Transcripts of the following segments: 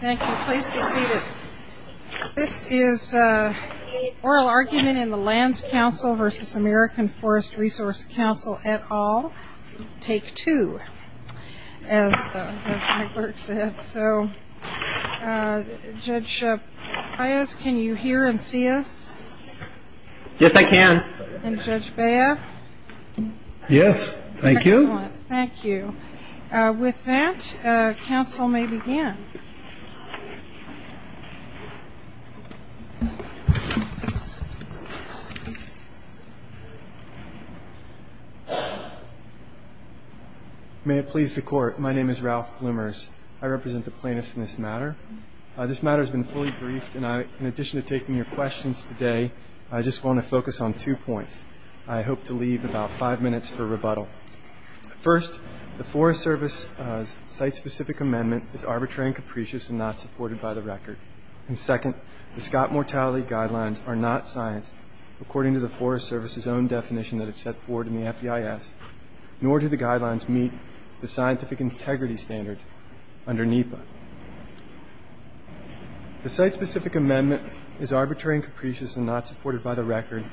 Thank you. Please be seated. This is Oral Argument in the Lands Council v. American Court of Appeals. Judge Paius, can you hear and see us? Yes, I can. And Judge Bea? Yes. Thank you. Excellent. Thank you. With that, counsel may begin. May it please the court, my name is Ralph Blumers. I represent the plaintiffs in this matter. This matter has been fully briefed, and in addition to taking your questions today, I just want to focus on two points. I hope to leave about five minutes for rebuttal. First, the Forest Service's site-specific amendment is arbitrary and capricious and not supported by the record. And second, the Scott Mortality Guidelines are not science, according to the Forest Service's own definition that is set forward in the FBIS, nor do the guidelines meet the scientific integrity standard under NEPA. The site-specific amendment is arbitrary and capricious and not supported by the record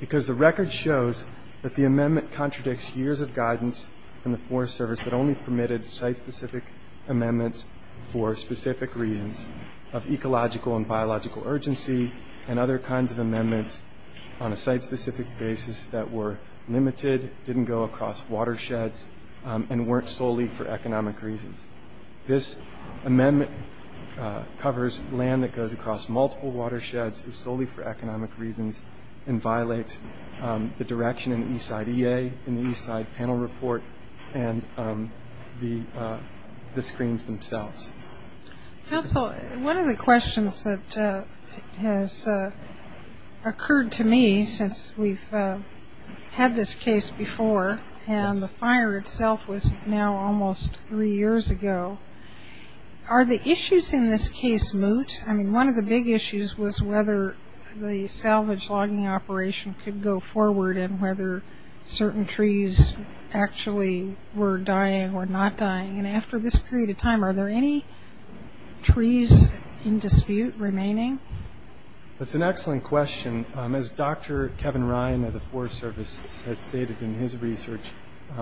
because the record shows that the amendment contradicts years of guidance from the Forest Service that only permitted site-specific amendments for specific reasons of ecological and biological urgency and other kinds of amendments on a site-specific basis that were limited, didn't go across watersheds, and weren't solely for economic reasons. This amendment covers land that goes across multiple watersheds, is solely for economic reasons, and violates the direction in the Eastside EA, in the Eastside Panel Report, and the screens themselves. Counsel, one of the questions that has occurred to me since we've had this case before, and the fire itself was now almost three years ago, are the issues in this case moot? I mean, one of the big issues was whether the salvage logging operation could go forward and whether certain trees actually were dying or not dying. And after this period of time, are there any trees in dispute remaining? That's an excellent question. As Dr. Kevin Ryan of the Forest Service has stated in his research,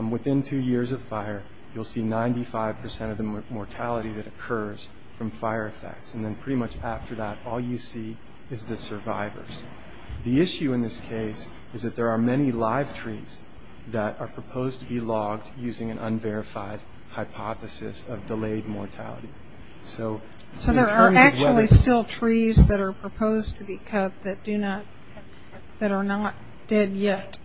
within two years of fire, you'll see 95% of the mortality that occurs from fire effects. And then pretty much after that, all you see is the survivors. The issue in this case is that there are many live trees that are proposed to be logged using an unverified hypothesis of delayed mortality. So, in terms of whether... Are there trees that are proposed to be cut that are not dead yet?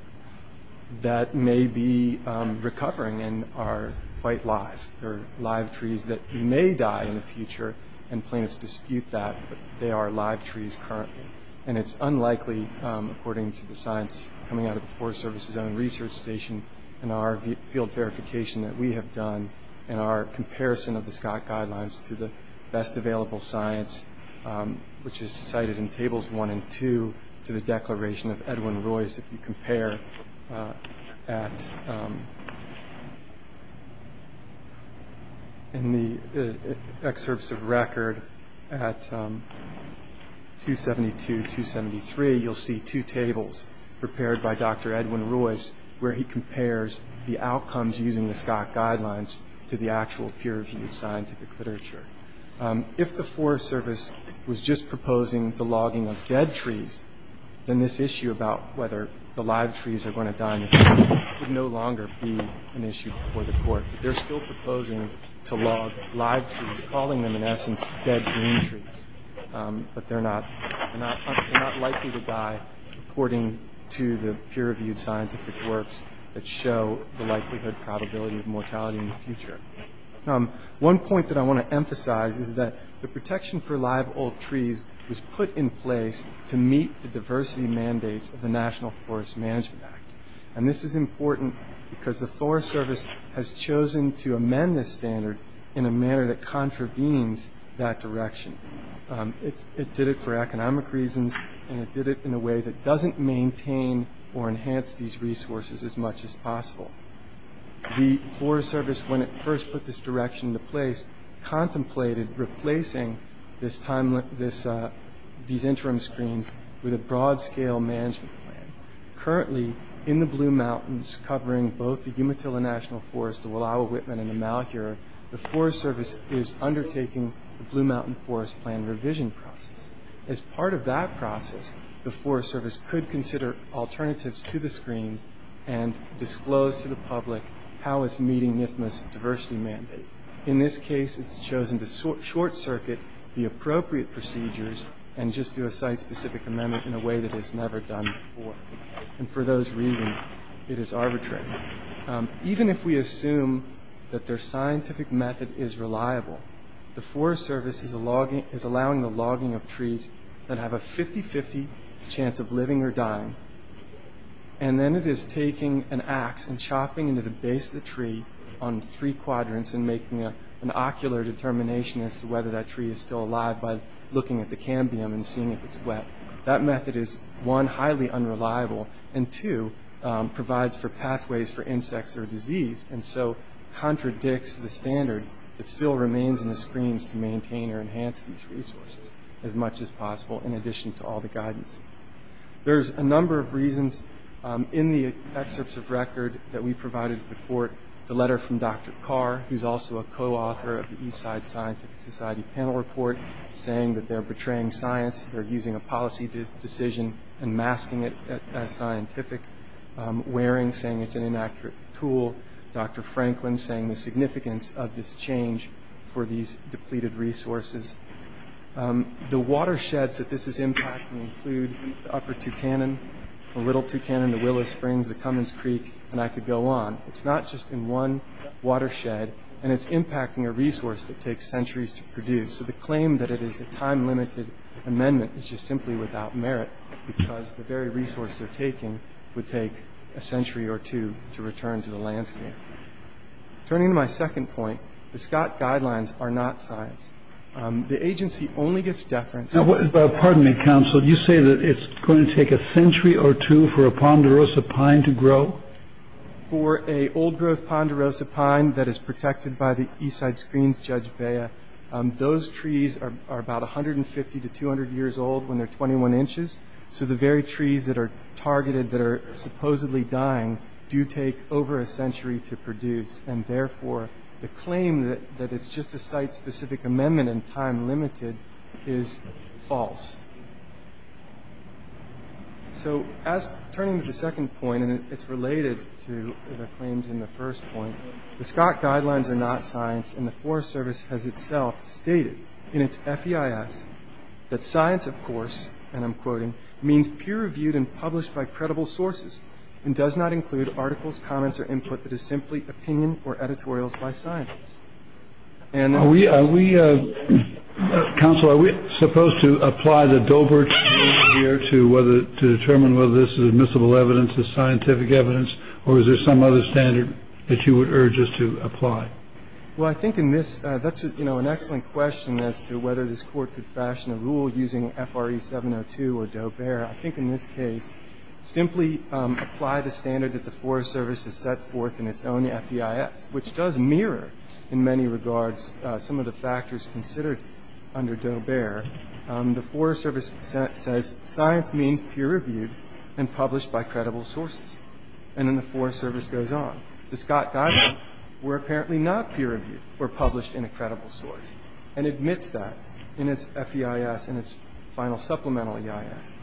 That may be recovering and are quite live. There are live trees that may die in the future, and plaintiffs dispute that, but they are live trees currently. And it's unlikely, according to the science coming out of the Forest Service's own research station, and our field verification that we have done, and our comparison of the Scott Guidelines to the best available science, which is cited in Tables 1 and 2, to the declaration of Edwin Royce, if you compare at... In the excerpts of record at 272, 273, you'll see two tables prepared by Dr. Edwin Royce, where he compares the outcomes using the Scott Guidelines to the actual peer-reviewed scientific literature. If the Forest Service was just proposing the logging of dead trees, then this issue about whether the live trees are going to die in the future would no longer be an issue before the court. But they're still proposing to log live trees, calling them in essence dead green trees. But they're not likely to die, according to the peer-reviewed scientific works that show the likelihood probability of mortality in the future. One point that I want to emphasize is that the protection for live old trees was put in place to meet the diversity mandates of the National Forest Management Act. And this is important because the Forest Service has chosen to amend this standard in a manner that contravenes that direction. It did it for economic reasons, and it did it in a way that doesn't maintain or enhance these resources as much as possible. The Forest Service, when it first put this direction into place, contemplated replacing these interim screens with a broad-scale management plan. Currently, in the Blue Mountains, covering both the Umatilla National Forest, the Wallowa-Whitman, and the Malheur, the Forest Service is undertaking the Blue Mountain Forest Plan revision process. As part of that process, the Forest Service could consider alternatives to the screens and disclose to the public how it's meeting NIFMA's diversity mandate. In this case, it's chosen to short-circuit the appropriate procedures and just do a site-specific amendment in a way that it's never done before. And for those reasons, it is arbitrary. Even if we assume that their scientific method is reliable, the Forest Service is allowing the logging of trees that have a 50-50 chance of living or dying, and then it is taking an axe and chopping into the base of the tree on three quadrants and making an ocular determination as to whether that tree is still alive by looking at the cambium and seeing if it's wet. That method is, one, highly unreliable, and two, provides for pathways for insects or disease, and so contradicts the standard that still remains in the screens to maintain or enhance these resources as much as possible in addition to all the guidance. There's a number of reasons in the excerpts of record that we provided to the court. The letter from Dr. Carr, who's also a co-author of the Eastside Scientific Society panel report, saying that they're betraying science, they're using a policy decision and masking it as scientific, Waring saying it's an inaccurate tool, Dr. Franklin saying the significance of this change for these depleted resources. The watersheds that this is impacting include the upper Tucannon, the Little Tucannon, the Willow Springs, the Cummins Creek, and I could go on. It's not just in one watershed, and it's impacting a resource that takes centuries to produce, so the claim that it is a time-limited amendment is just simply without merit, because the very resource they're taking would take a century or two to return to the landscape. Turning to my second point, the Scott guidelines are not science. The agency only gets deference to the- Now, pardon me, counsel. You say that it's going to take a century or two for a ponderosa pine to grow? For a old-growth ponderosa pine that is protected by the Eastside Screens, Judge Bea, those trees are about 150 to 200 years old when they're 21 inches, so the very trees that are targeted, that are supposedly dying, do take over a century to produce, and therefore the claim that it's just a site-specific amendment and time-limited is false. Turning to the second point, and it's related to the claims in the first point, the Scott guidelines are not science, and the Forest Service has itself stated in its FEIS that science, of course, and I'm quoting, means peer-reviewed and published by credible sources and does not include articles, comments, or input that is simply opinion or editorials by scientists. Are we, counsel, are we supposed to apply the Doebert standard here to determine whether this is admissible evidence, this is scientific evidence, or is there some other standard that you would urge us to apply? Well, I think in this, that's an excellent question as to whether this Court could fashion a rule using FRE 702 or Doebert. I think in this case, simply apply the standard that the Forest Service has set forth in its own FEIS, which does mirror in many regards some of the factors considered under Doebert. The Forest Service says science means peer-reviewed and published by credible sources, and then the Forest Service goes on. The Scott guidelines were apparently not peer-reviewed or published in a credible source, and admits that in its FEIS and its final supplemental EIS.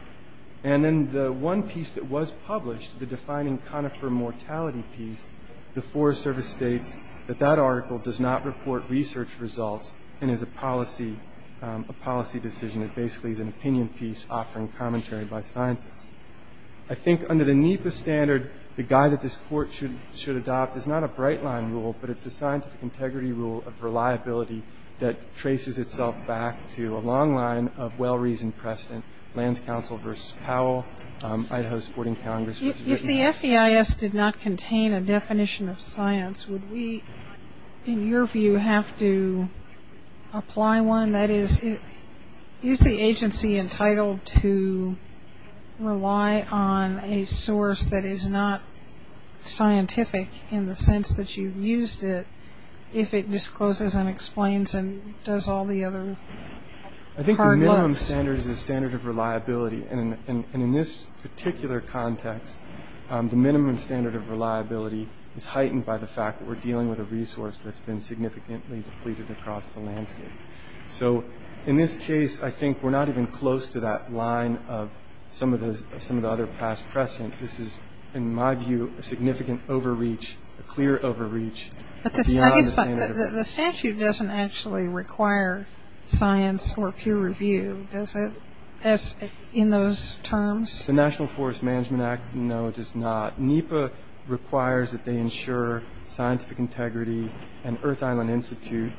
And then the one piece that was published, the defining conifer mortality piece, the Forest Service states that that article does not report research results and is a policy decision. It basically is an opinion piece offering commentary by scientists. I think under the NEPA standard, the guide that this Court should adopt is not a bright line rule, but it's a scientific integrity rule of reliability that traces itself back to a long line of well-reasoned precedent. Lands Council v. Powell, Idaho's Boarding Congress. If the FEIS did not contain a definition of science, would we, in your view, have to apply one? That is, is the agency entitled to rely on a source that is not scientific in the I think the minimum standard is the standard of reliability, and in this particular context, the minimum standard of reliability is heightened by the fact that we're dealing with a resource that's been significantly depleted across the landscape. So in this case, I think we're not even close to that line of some of the other past precedent. This is, in my view, a significant overreach, a clear overreach beyond the standard of reliability. The statute doesn't actually require science or peer review, does it, in those terms? The National Forest Management Act, no, it does not. NEPA requires that they ensure scientific integrity, and Earth Island Institute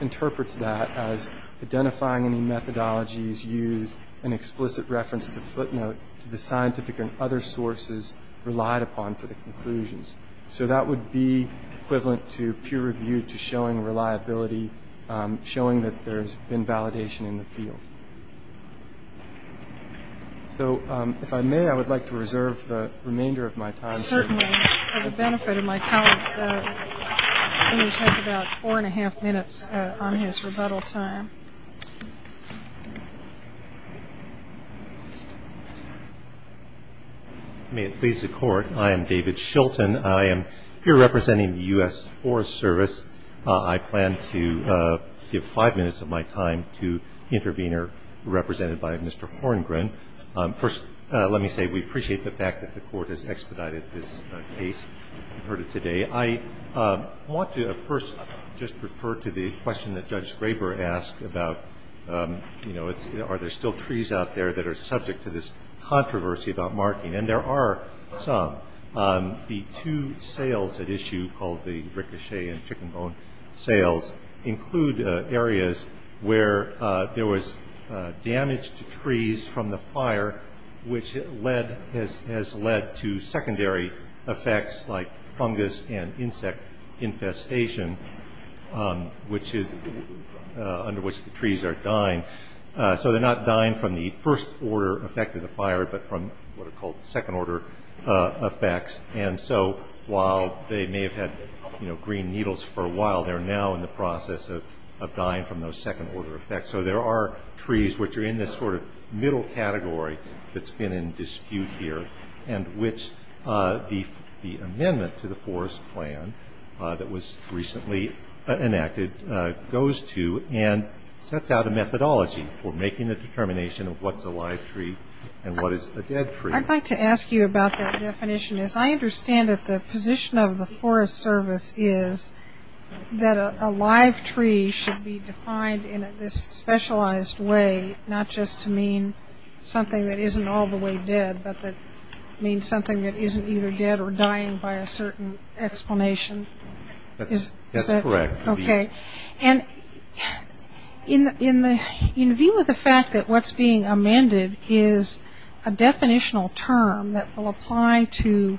interprets that as identifying any methodologies used in explicit reference to footnote to the scientific and other sources relied upon for the conclusions. So that would be equivalent to peer review, to showing reliability, showing that there's been validation in the field. So if I may, I would like to reserve the remainder of my time. Certainly, for the benefit of my colleagues, he has about four and a half minutes on his rebuttal time. May it please the Court, I am David Shilton. I am here representing the U.S. Forest Service. I plan to give five minutes of my time to the intervener, represented by Mr. Horngren. First, let me say we appreciate the fact that the Court has expedited this case. I want to first just refer to the question that Judge Graber asked about, you know, are there still trees out there that are subject to this controversy about marking? And there are some. The two sales at issue, called the ricochet and chicken bone sales, include areas where there was damage to trees from the fire, which has led to secondary effects like fungus and insect infestation, under which the trees are dying. So they're not dying from the first order effect of the fire, but from what are called second order effects. And so while they may have had green needles for a while, they're now in the process of dying from those second order effects. So there are trees which are in this sort of middle category that's in dispute here, and which the amendment to the forest plan that was recently enacted goes to and sets out a methodology for making the determination of what's a live tree and what is a dead tree. I'd like to ask you about that definition. As I understand it, the position of the Forest Service is that a live tree should be defined in this specialized way, not just to mean something that isn't all the way dead, but that means something that isn't either dead or dying by a certain explanation. That's correct. Okay. And in view of the fact that what's being amended is a definitional term that will apply to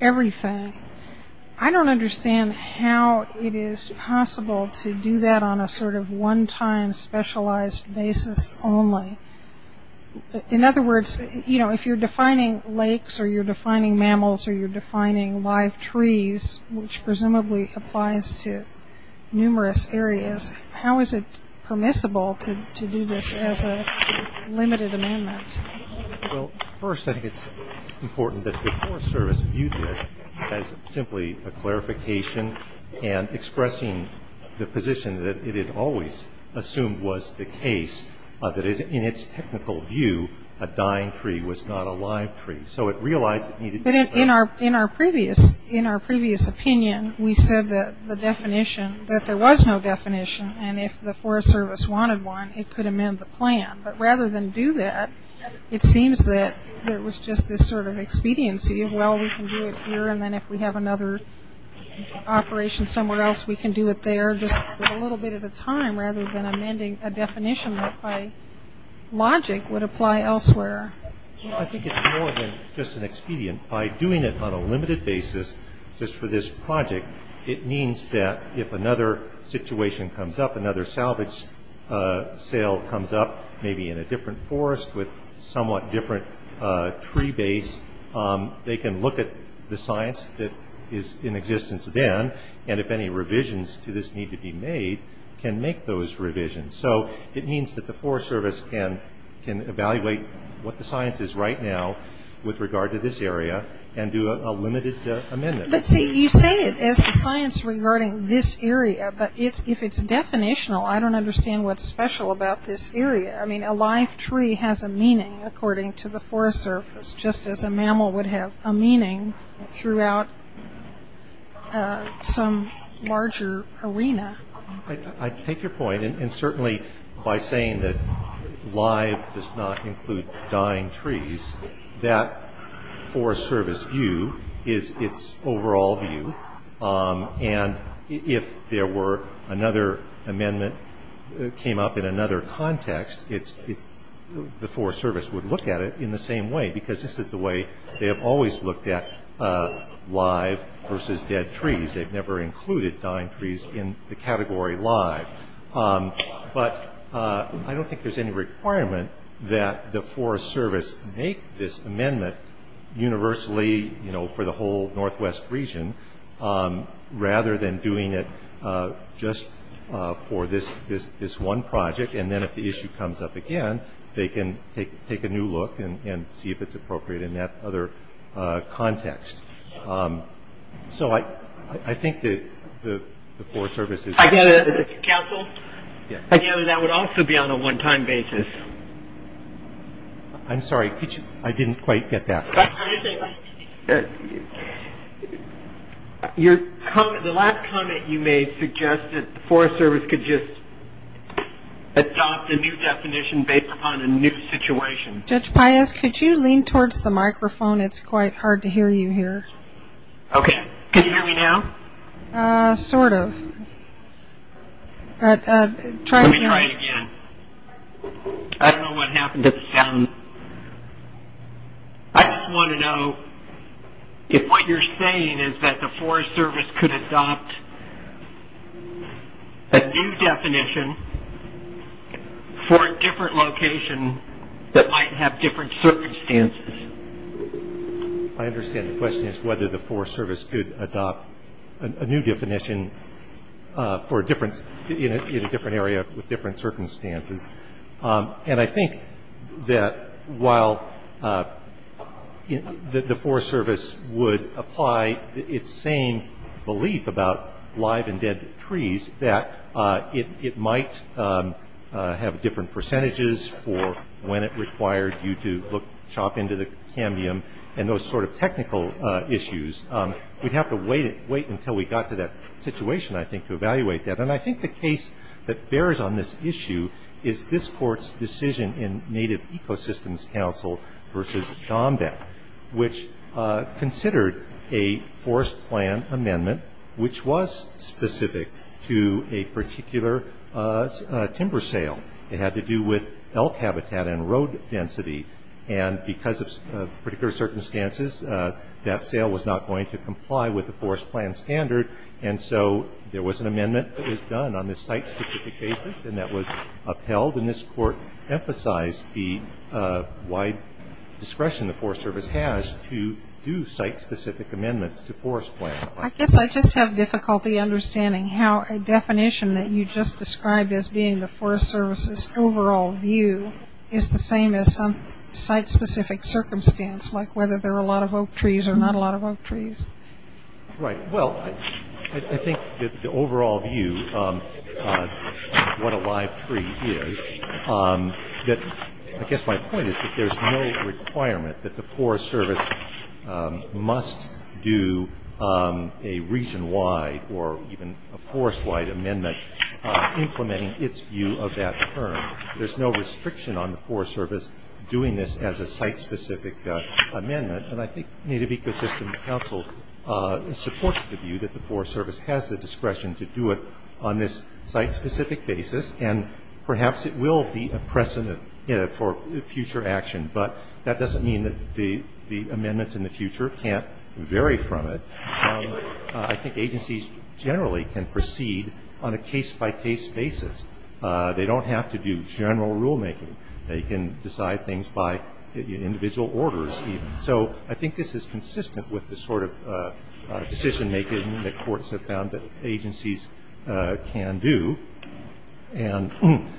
everything, I don't understand how it is possible to do that on a sort of one-time specialized basis only. In other words, if you're defining lakes or you're defining mammals or you're defining live trees, which presumably applies to numerous areas, how is it permissible to do this as a limited amendment? Well, first I think it's important that the Forest Service view this as simply a clarification and expressing the position that it had always assumed was the case, that in its technical view, a dying tree was not a live tree. So it realized it needed... But in our previous opinion, we said that the definition, that there was no definition and if the Forest Service wanted one, it could amend the plan. But rather than do that, it seems that there was just this sort of expediency of, well, we can do it here and then if we have another operation somewhere else, we can do it there just a little bit at a time rather than amending a definition that by logic would apply elsewhere. Well, I think it's more than just an expedient. By doing it on a limited basis just for this project, it means that if another situation comes up, another salvage sale comes up, maybe in a different forest with somewhat different tree base, they can look at the science that is in existence then and if any revisions to this need to be made, can make those revisions. So it means that the Forest Service can evaluate what the science is right now with regard to this area and do a limited amendment. But see, you say it as the science regarding this area, but if it's definitional, I don't understand what's special about this area. I mean, a live tree has a meaning according to the Forest Service just as a mammal would have a meaning throughout some larger arena. I take your point and certainly by saying that live does not include dying trees, that Forest Service view is its overall view and if there were another amendment that came up in another context, the Forest Service would look at it in the same way because this is the way they have always looked at live versus dead trees. They've never included dying trees in the category live. But I don't think there's any requirement that the Forest Service make this amendment universally for the whole northwest region rather than doing it just for this one project and then if the issue comes up again, they can take a new look and see if it's appropriate in that other context. So I think that the Forest Service is... I get it. Counsel? Yes. I get it. That would also be on a one-time basis. I'm sorry, could you... I didn't quite get that. The last comment you made suggested the Forest Service could just adopt a new definition based upon a new situation. Judge Pius, could you lean towards the microphone? It's quite hard to hear you here. Okay. Can you hear me now? Sort of. Let me try it again. I don't know what happened to the sound. I just want to know if what you're saying is that the Forest Service could adopt a new I understand the question is whether the Forest Service could adopt a new definition in a different area with different circumstances and I think that while the Forest Service would apply its same belief about live and dead trees, that it might have different percentages for when it required you to chop into the cambium and those sort of technical issues, we'd have to wait until we got to that situation, I think, to evaluate that. And I think the case that bears on this issue is this Court's decision in Native Ecosystems Council versus DOMBEC, which considered a forest plan amendment which was specific to a particular timber sale. It had to do with elk habitat and road density and because of particular circumstances, that sale was not going to comply with the forest plan standard and so there was an amendment that was done on this site-specific basis and that was upheld and this Court emphasized the wide discretion the Forest Service has to do site-specific amendments to forest plans. I guess I just have difficulty understanding how a definition that you just described as being the Forest Service's overall view is the same as some site-specific circumstance, like whether there are a lot of oak trees or not a lot of oak trees. Right, well, I think that the overall view of what a live tree is, that I guess my point is that there's no requirement that the Forest Service must do a region-wide or even a forest-wide amendment implementing its view of that term. There's no restriction on the Forest Service doing this as a site-specific amendment and I think Native Ecosystems Council supports the view that the Forest Service has the discretion to do it on this site-specific basis and perhaps it will be a precedent for future action, but that doesn't mean that the amendments in the future can't vary from it. I think agencies generally can proceed on a case-by-case basis. They don't have to do general rulemaking. They can decide things by individual orders. So I think this is consistent with the sort of decision-making that courts have found that agencies can do and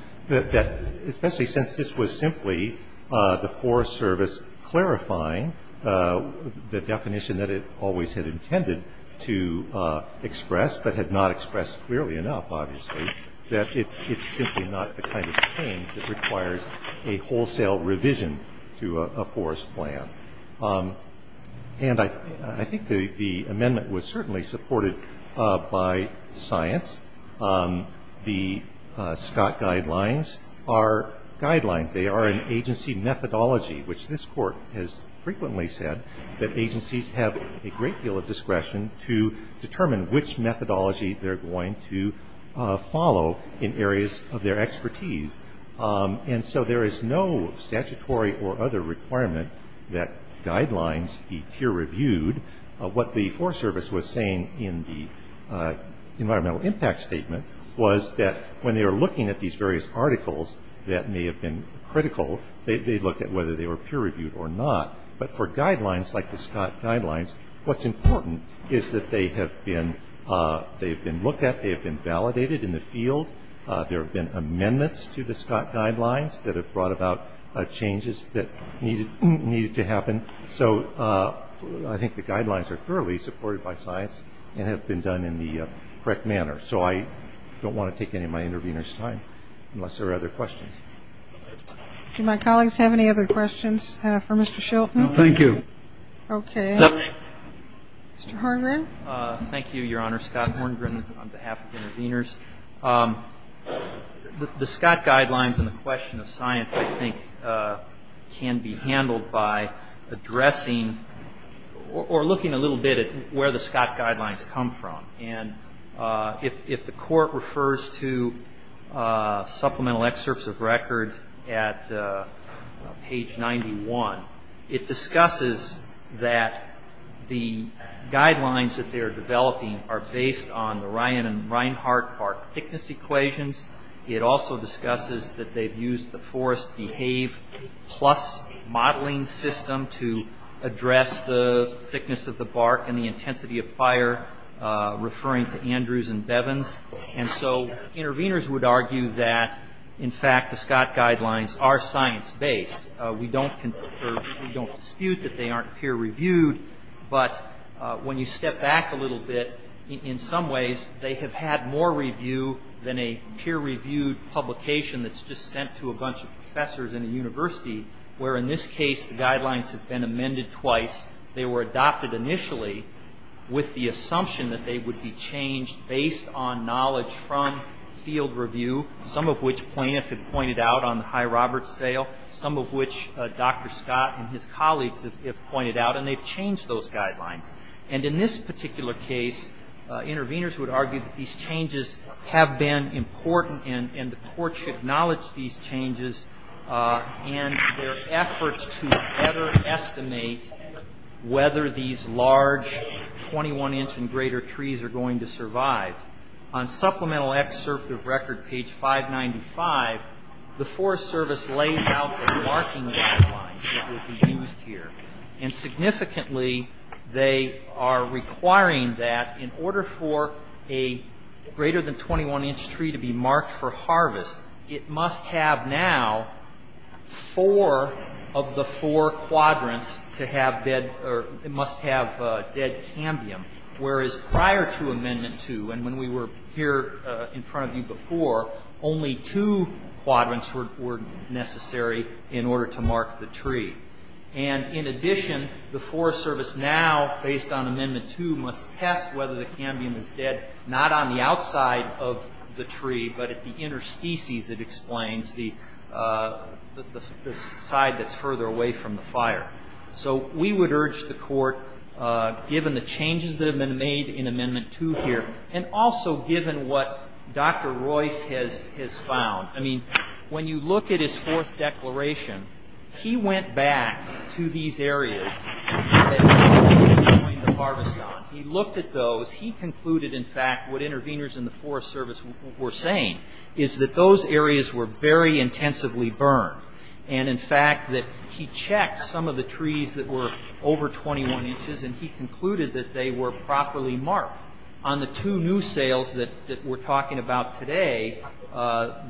especially since this was simply the Forest Service clarifying the definition that it always had intended to express but had not expressed clearly enough, obviously, that it's simply not the kind of change that requires a wholesale revision to a forest plan. And I think the amendment was certainly supported by science. The Scott Guidelines are guidelines. They are an agency methodology, which this Court has frequently said that agencies have a great deal of discretion to determine which methodology they're going to follow in areas of their expertise. And so there is no statutory or other requirement that guidelines be peer-reviewed. What the Forest Service was saying in the environmental impact statement was that when they were looking at these various articles that may have been critical, they'd look at whether they were peer-reviewed or not. But for guidelines like the Scott Guidelines, what's important is that they have been looked at, they have been validated in the field. There have been amendments to the Scott Guidelines that have brought about changes that needed to happen. So I think the guidelines are thoroughly supported by science and have been done in the correct manner. So I don't want to take any of my intervener's time unless there are other questions. Do my colleagues have any other questions for Mr. Shilton? No, thank you. Okay. Mr. Horngren? Thank you, Your Honor. Scott Horngren on behalf of the interveners. The Scott Guidelines and the question of science, I think, can be handled by addressing or looking a little bit at where the Scott Guidelines come from. And if the Court refers to supplemental excerpts of record at page 91, it discusses that the guidelines that they are developing are based on the Ryan and Reinhart bark thickness equations. It also discusses that they've used the Forest BEHAVE Plus modeling system to address the thickness of the bark and the intensity of fire, referring to Andrews and Bevins. And so interveners would argue that, in fact, the Scott Guidelines are science-based. We don't dispute that they aren't peer-reviewed. But when you step back a little bit, in some ways, they have had more review than a peer-reviewed publication that's just sent to a bunch of professors in a university, where, in this case, the guidelines have been amended twice. They were adopted initially with the assumption that they would be changed based on knowledge from field review, some of which Planoff had pointed out on the High Roberts sale, some of which Dr. Scott and his colleagues have pointed out. And they've changed those guidelines. And in this particular case, interveners would argue that these changes have been important, and the Court should acknowledge these changes and their efforts to better estimate whether these large 21-inch and greater trees are going to survive. On Supplemental Excerpt of Record, page 595, the Forest Service lays out the marking guidelines that will be used here. And significantly, they are requiring that, in order for a greater than 21-inch tree to be marked for harvest, it must have now four of the four quadrants to have dead, or it must have dead cambium. Whereas prior to Amendment 2, and when we were here in front of you before, only two quadrants were necessary in order to mark the tree. And in addition, the Forest Service now, based on Amendment 2, must test whether the cambium is dead not on the outside of the tree, but at the interstices, it explains, the side that's further away from the fire. So we would urge the Court, given the changes that have been made in Amendment 2 here, and also given what Dr. Royce has found, I mean, when you look at his fourth declaration, he went back to these areas that he was going to harvest on. He looked at those. He concluded, in fact, what interveners in the Forest Service were saying, is that those areas were very intensively burned. And, in fact, that he checked some of the trees that were over 21 inches, and he concluded that they were properly marked. On the two new sales that we're talking about today,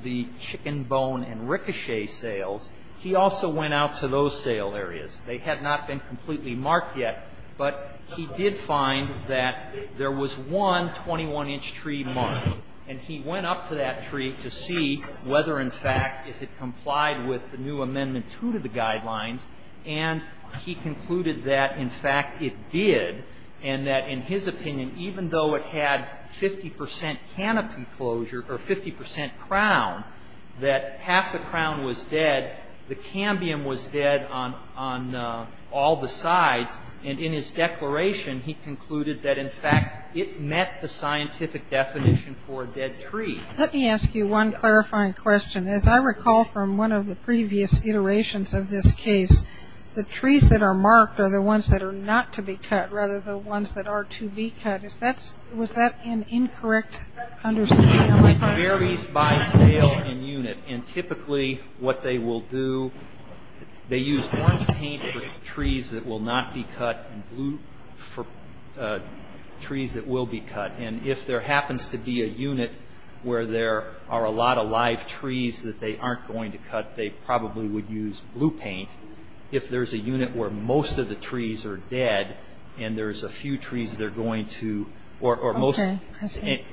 the chicken, bone, and ricochet sales, he also went out to those sale areas. They had not been completely marked yet, but he did find that there was one 21-inch tree marked. And he went up to that tree to see whether, in fact, it had complied with the new Amendment 2 to the Guidelines, and he concluded that, in fact, it did, and that, in his opinion, even though it had 50 percent canopy closure or 50 percent crown, that half the crown was dead. The cambium was dead on all the sides. And in his declaration, he concluded that, in fact, it met the scientific definition for a dead tree. Let me ask you one clarifying question. As I recall from one of the previous iterations of this case, the trees that are marked are the ones that are not to be cut rather than the ones that are to be cut. Was that an incorrect understanding? It varies by sale and unit, and typically what they will do, they use orange paint for trees that will not be cut and blue for trees that will be cut. And if there happens to be a unit where there are a lot of live trees that they aren't going to cut, they probably would use blue paint. If there's a unit where most of the trees are dead and there's a few trees they're going to, or most,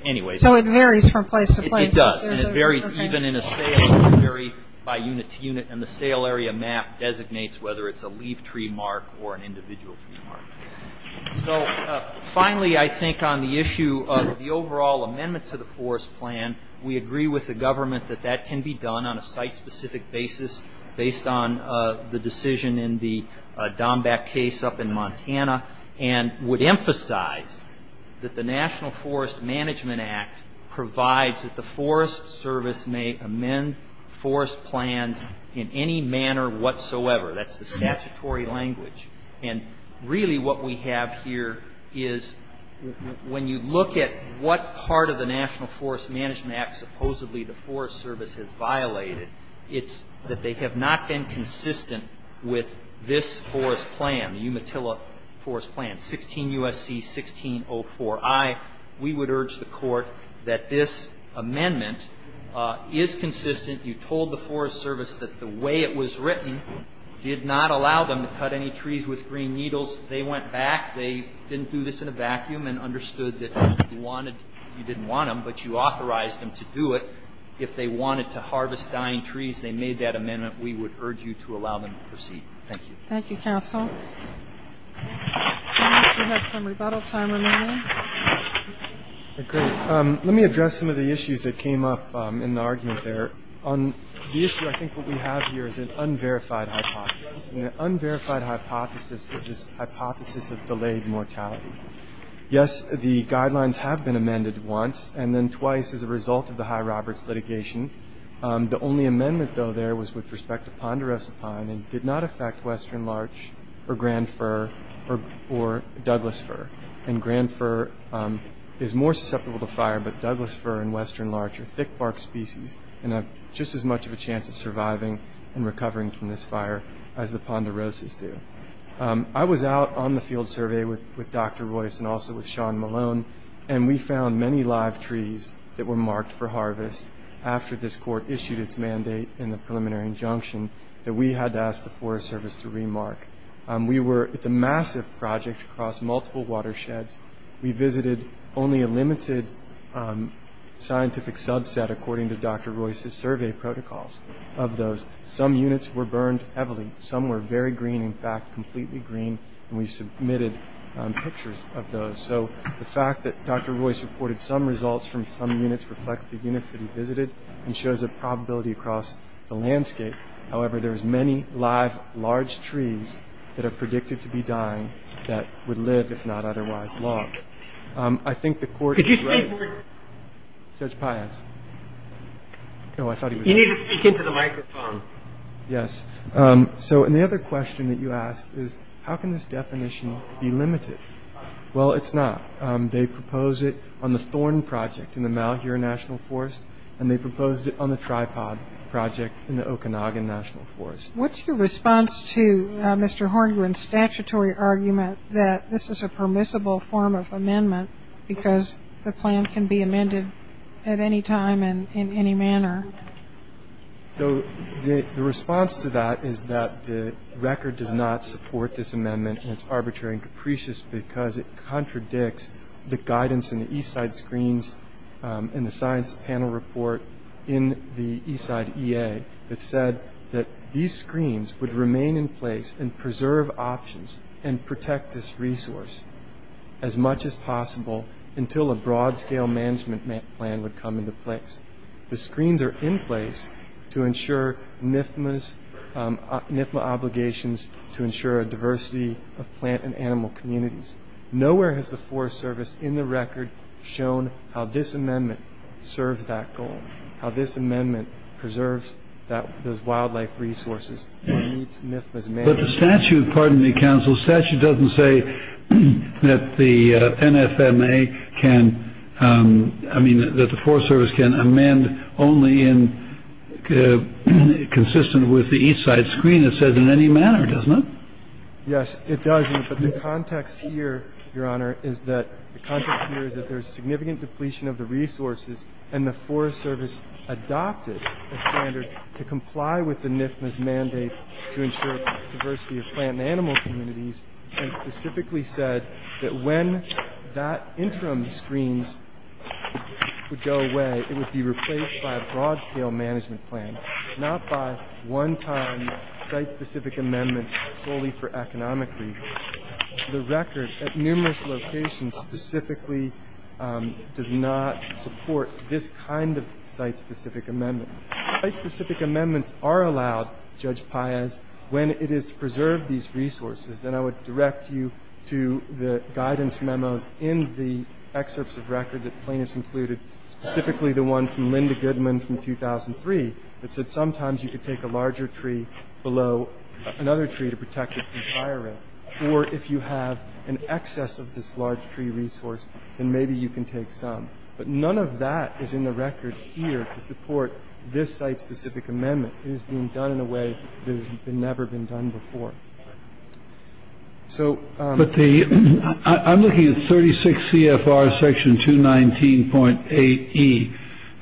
anyway. So it varies from place to place. It does, and it varies even in a sale. It varies by unit to unit, and the sale area map designates whether it's a leaf tree mark or an individual tree mark. So finally, I think on the issue of the overall amendment to the forest plan, we agree with the government that that can be done on a site-specific basis based on the decision in the Domback case up in Montana, and would emphasize that the National Forest Management Act provides that the Forest Service may amend forest plans in any manner whatsoever. That's the statutory language. And really what we have here is when you look at what part of the National Forest Management Act supposedly the Forest Service has violated, it's that they have not been consistent with this forest plan, the Umatilla Forest Plan, 16 U.S.C. 1604I. We would urge the Court that this amendment is consistent. You told the Forest Service that the way it was written did not allow them to cut any trees with green needles. They went back. They didn't do this in a vacuum and understood that you didn't want them, but you authorized them to do it. If they wanted to harvest dying trees, they made that amendment. We would urge you to allow them to proceed. Thank you. Thank you, counsel. We have some rebuttal time remaining. Great. Let me address some of the issues that came up in the argument there. On the issue, I think what we have here is an unverified hypothesis, and an unverified hypothesis is this hypothesis of delayed mortality. Yes, the guidelines have been amended once and then twice as a result of the High Roberts litigation. The only amendment, though, there was with respect to ponderosa pine and did not affect western larch or grand fir or douglas fir. And grand fir is more susceptible to fire, but douglas fir and western larch are thick bark species and have just as much of a chance of surviving and recovering from this fire as the ponderosas do. I was out on the field survey with Dr. Royce and also with Sean Malone, and we found many live trees that were marked for harvest after this court issued its mandate in the preliminary injunction that we had to ask the Forest Service to remark. It's a massive project across multiple watersheds. We visited only a limited scientific subset, according to Dr. Royce's survey protocols, of those. Some units were burned heavily. Some were very green, in fact, completely green, and we submitted pictures of those. So the fact that Dr. Royce reported some results from some units reflects the units that he visited and shows a probability across the landscape. However, there's many live large trees that are predicted to be dying that would live, if not otherwise, long. I think the court is ready. Could you speak more? Judge Pius. No, I thought he was going to speak. You need to speak into the microphone. Yes. So and the other question that you asked is how can this definition be limited? Well, it's not. They proposed it on the thorn project in the Malheur National Forest, and they proposed it on the tripod project in the Okanagan National Forest. What's your response to Mr. Horngren's statutory argument that this is a permissible form of amendment because the plan can be amended at any time and in any manner? So the response to that is that the record does not support this amendment and it's arbitrary and capricious because it contradicts the guidance in the Eastside screens and the science panel report in the Eastside EA that said that these screens would remain in place and preserve options and protect this resource as much as possible until a broad-scale management plan would come into place. The screens are in place to ensure NFMA obligations to ensure a diversity of plant and animal communities. Nowhere has the Forest Service in the record shown how this amendment serves that goal, how this amendment preserves those wildlife resources or meets NFMA's mandate. But the statute, pardon me, counsel, statute doesn't say that the NFMA can. I mean, that the Forest Service can amend only in consistent with the Eastside screen. It says in any manner, doesn't it? Yes, it does. But the context here, Your Honor, is that the context here is that there is significant depletion of the resources and the Forest Service adopted a standard to comply with the NFMA's mandates to ensure diversity of plant and animal communities and specifically said that when that interim screens would go away, it would be replaced by a broad-scale management plan, not by one-time site-specific amendments solely for economic reasons. The record at numerous locations specifically does not support this kind of site-specific amendment. Site-specific amendments are allowed, Judge Paez, when it is to preserve these resources. And I would direct you to the guidance memos in the excerpts of record that Plaintiffs included, specifically the one from Linda Goodman from 2003 that said sometimes you could take a larger tree below another tree to protect it from fire risk, or if you have an excess of this large tree resource, then maybe you can take some. But none of that is in the record here to support this site-specific amendment. It is being done in a way that has never been done before. So the ---- But the ---- I'm looking at 36 CFR section 219.8E,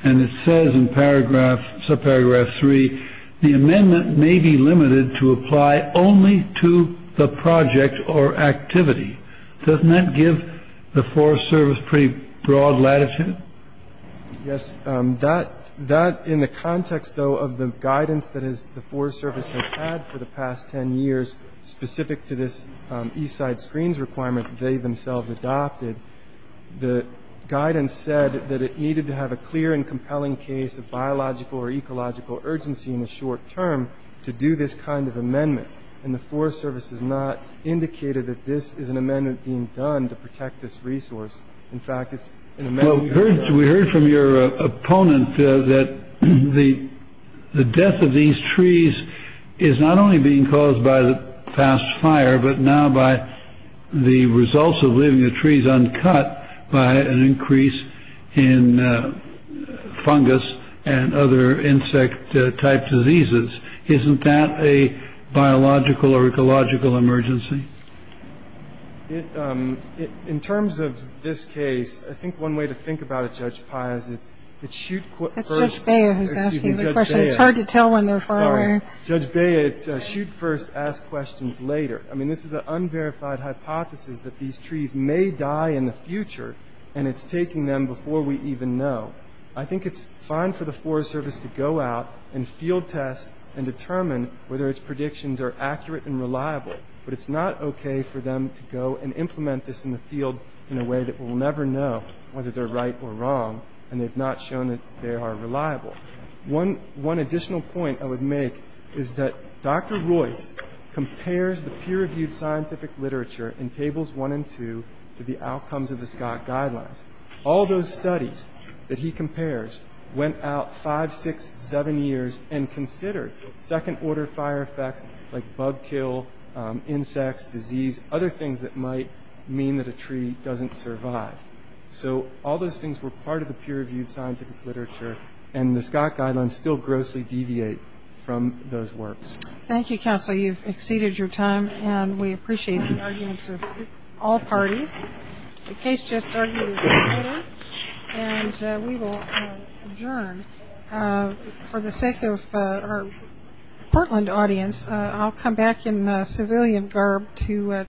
and it says in paragraph, subparagraph 3, the amendment may be limited to apply only to the project or activity. Doesn't that give the Forest Service pretty broad latitude? Yes. That, in the context, though, of the guidance that the Forest Service has had for the past 10 years, specific to this eastside screens requirement they themselves adopted, the guidance said that it needed to have a clear and compelling case of biological or ecological urgency in the short term to do this kind of amendment. And the Forest Service has not indicated that this is an amendment being done to protect this resource. In fact, it's an amendment ---- Well, we heard from your opponent that the death of these trees is not only being caused by the past fire, but now by the results of leaving the trees uncut by an increase in fungus and other insect-type diseases. Isn't that a biological or ecological emergency? In terms of this case, I think one way to think about it, Judge Pai, is it's shoot first. That's Judge Beyer who's asking the question. It's hard to tell when they're far away. Judge Beyer, it's shoot first, ask questions later. I mean, this is an unverified hypothesis that these trees may die in the future, and it's taking them before we even know. I think it's fine for the Forest Service to go out and field test and determine whether its predictions are accurate and reliable, but it's not okay for them to go and implement this in the field in a way that we'll never know whether they're right or wrong, and they've not shown that they are reliable. One additional point I would make is that Dr. Royce compares the peer-reviewed scientific literature in tables one and two to the outcomes of the Scott Guidelines. All those studies that he compares went out five, six, seven years and considered second-order fire effects like bug kill, insects, disease, other things that might mean that a tree doesn't survive. So all those things were part of the peer-reviewed scientific literature, and the Scott Guidelines still grossly deviate from those works. Thank you, Counsel. You've exceeded your time, and we appreciate the arguments of all parties. The case just started in Seattle, and we will adjourn. For the sake of our Portland audience, I'll come back in civilian garb to...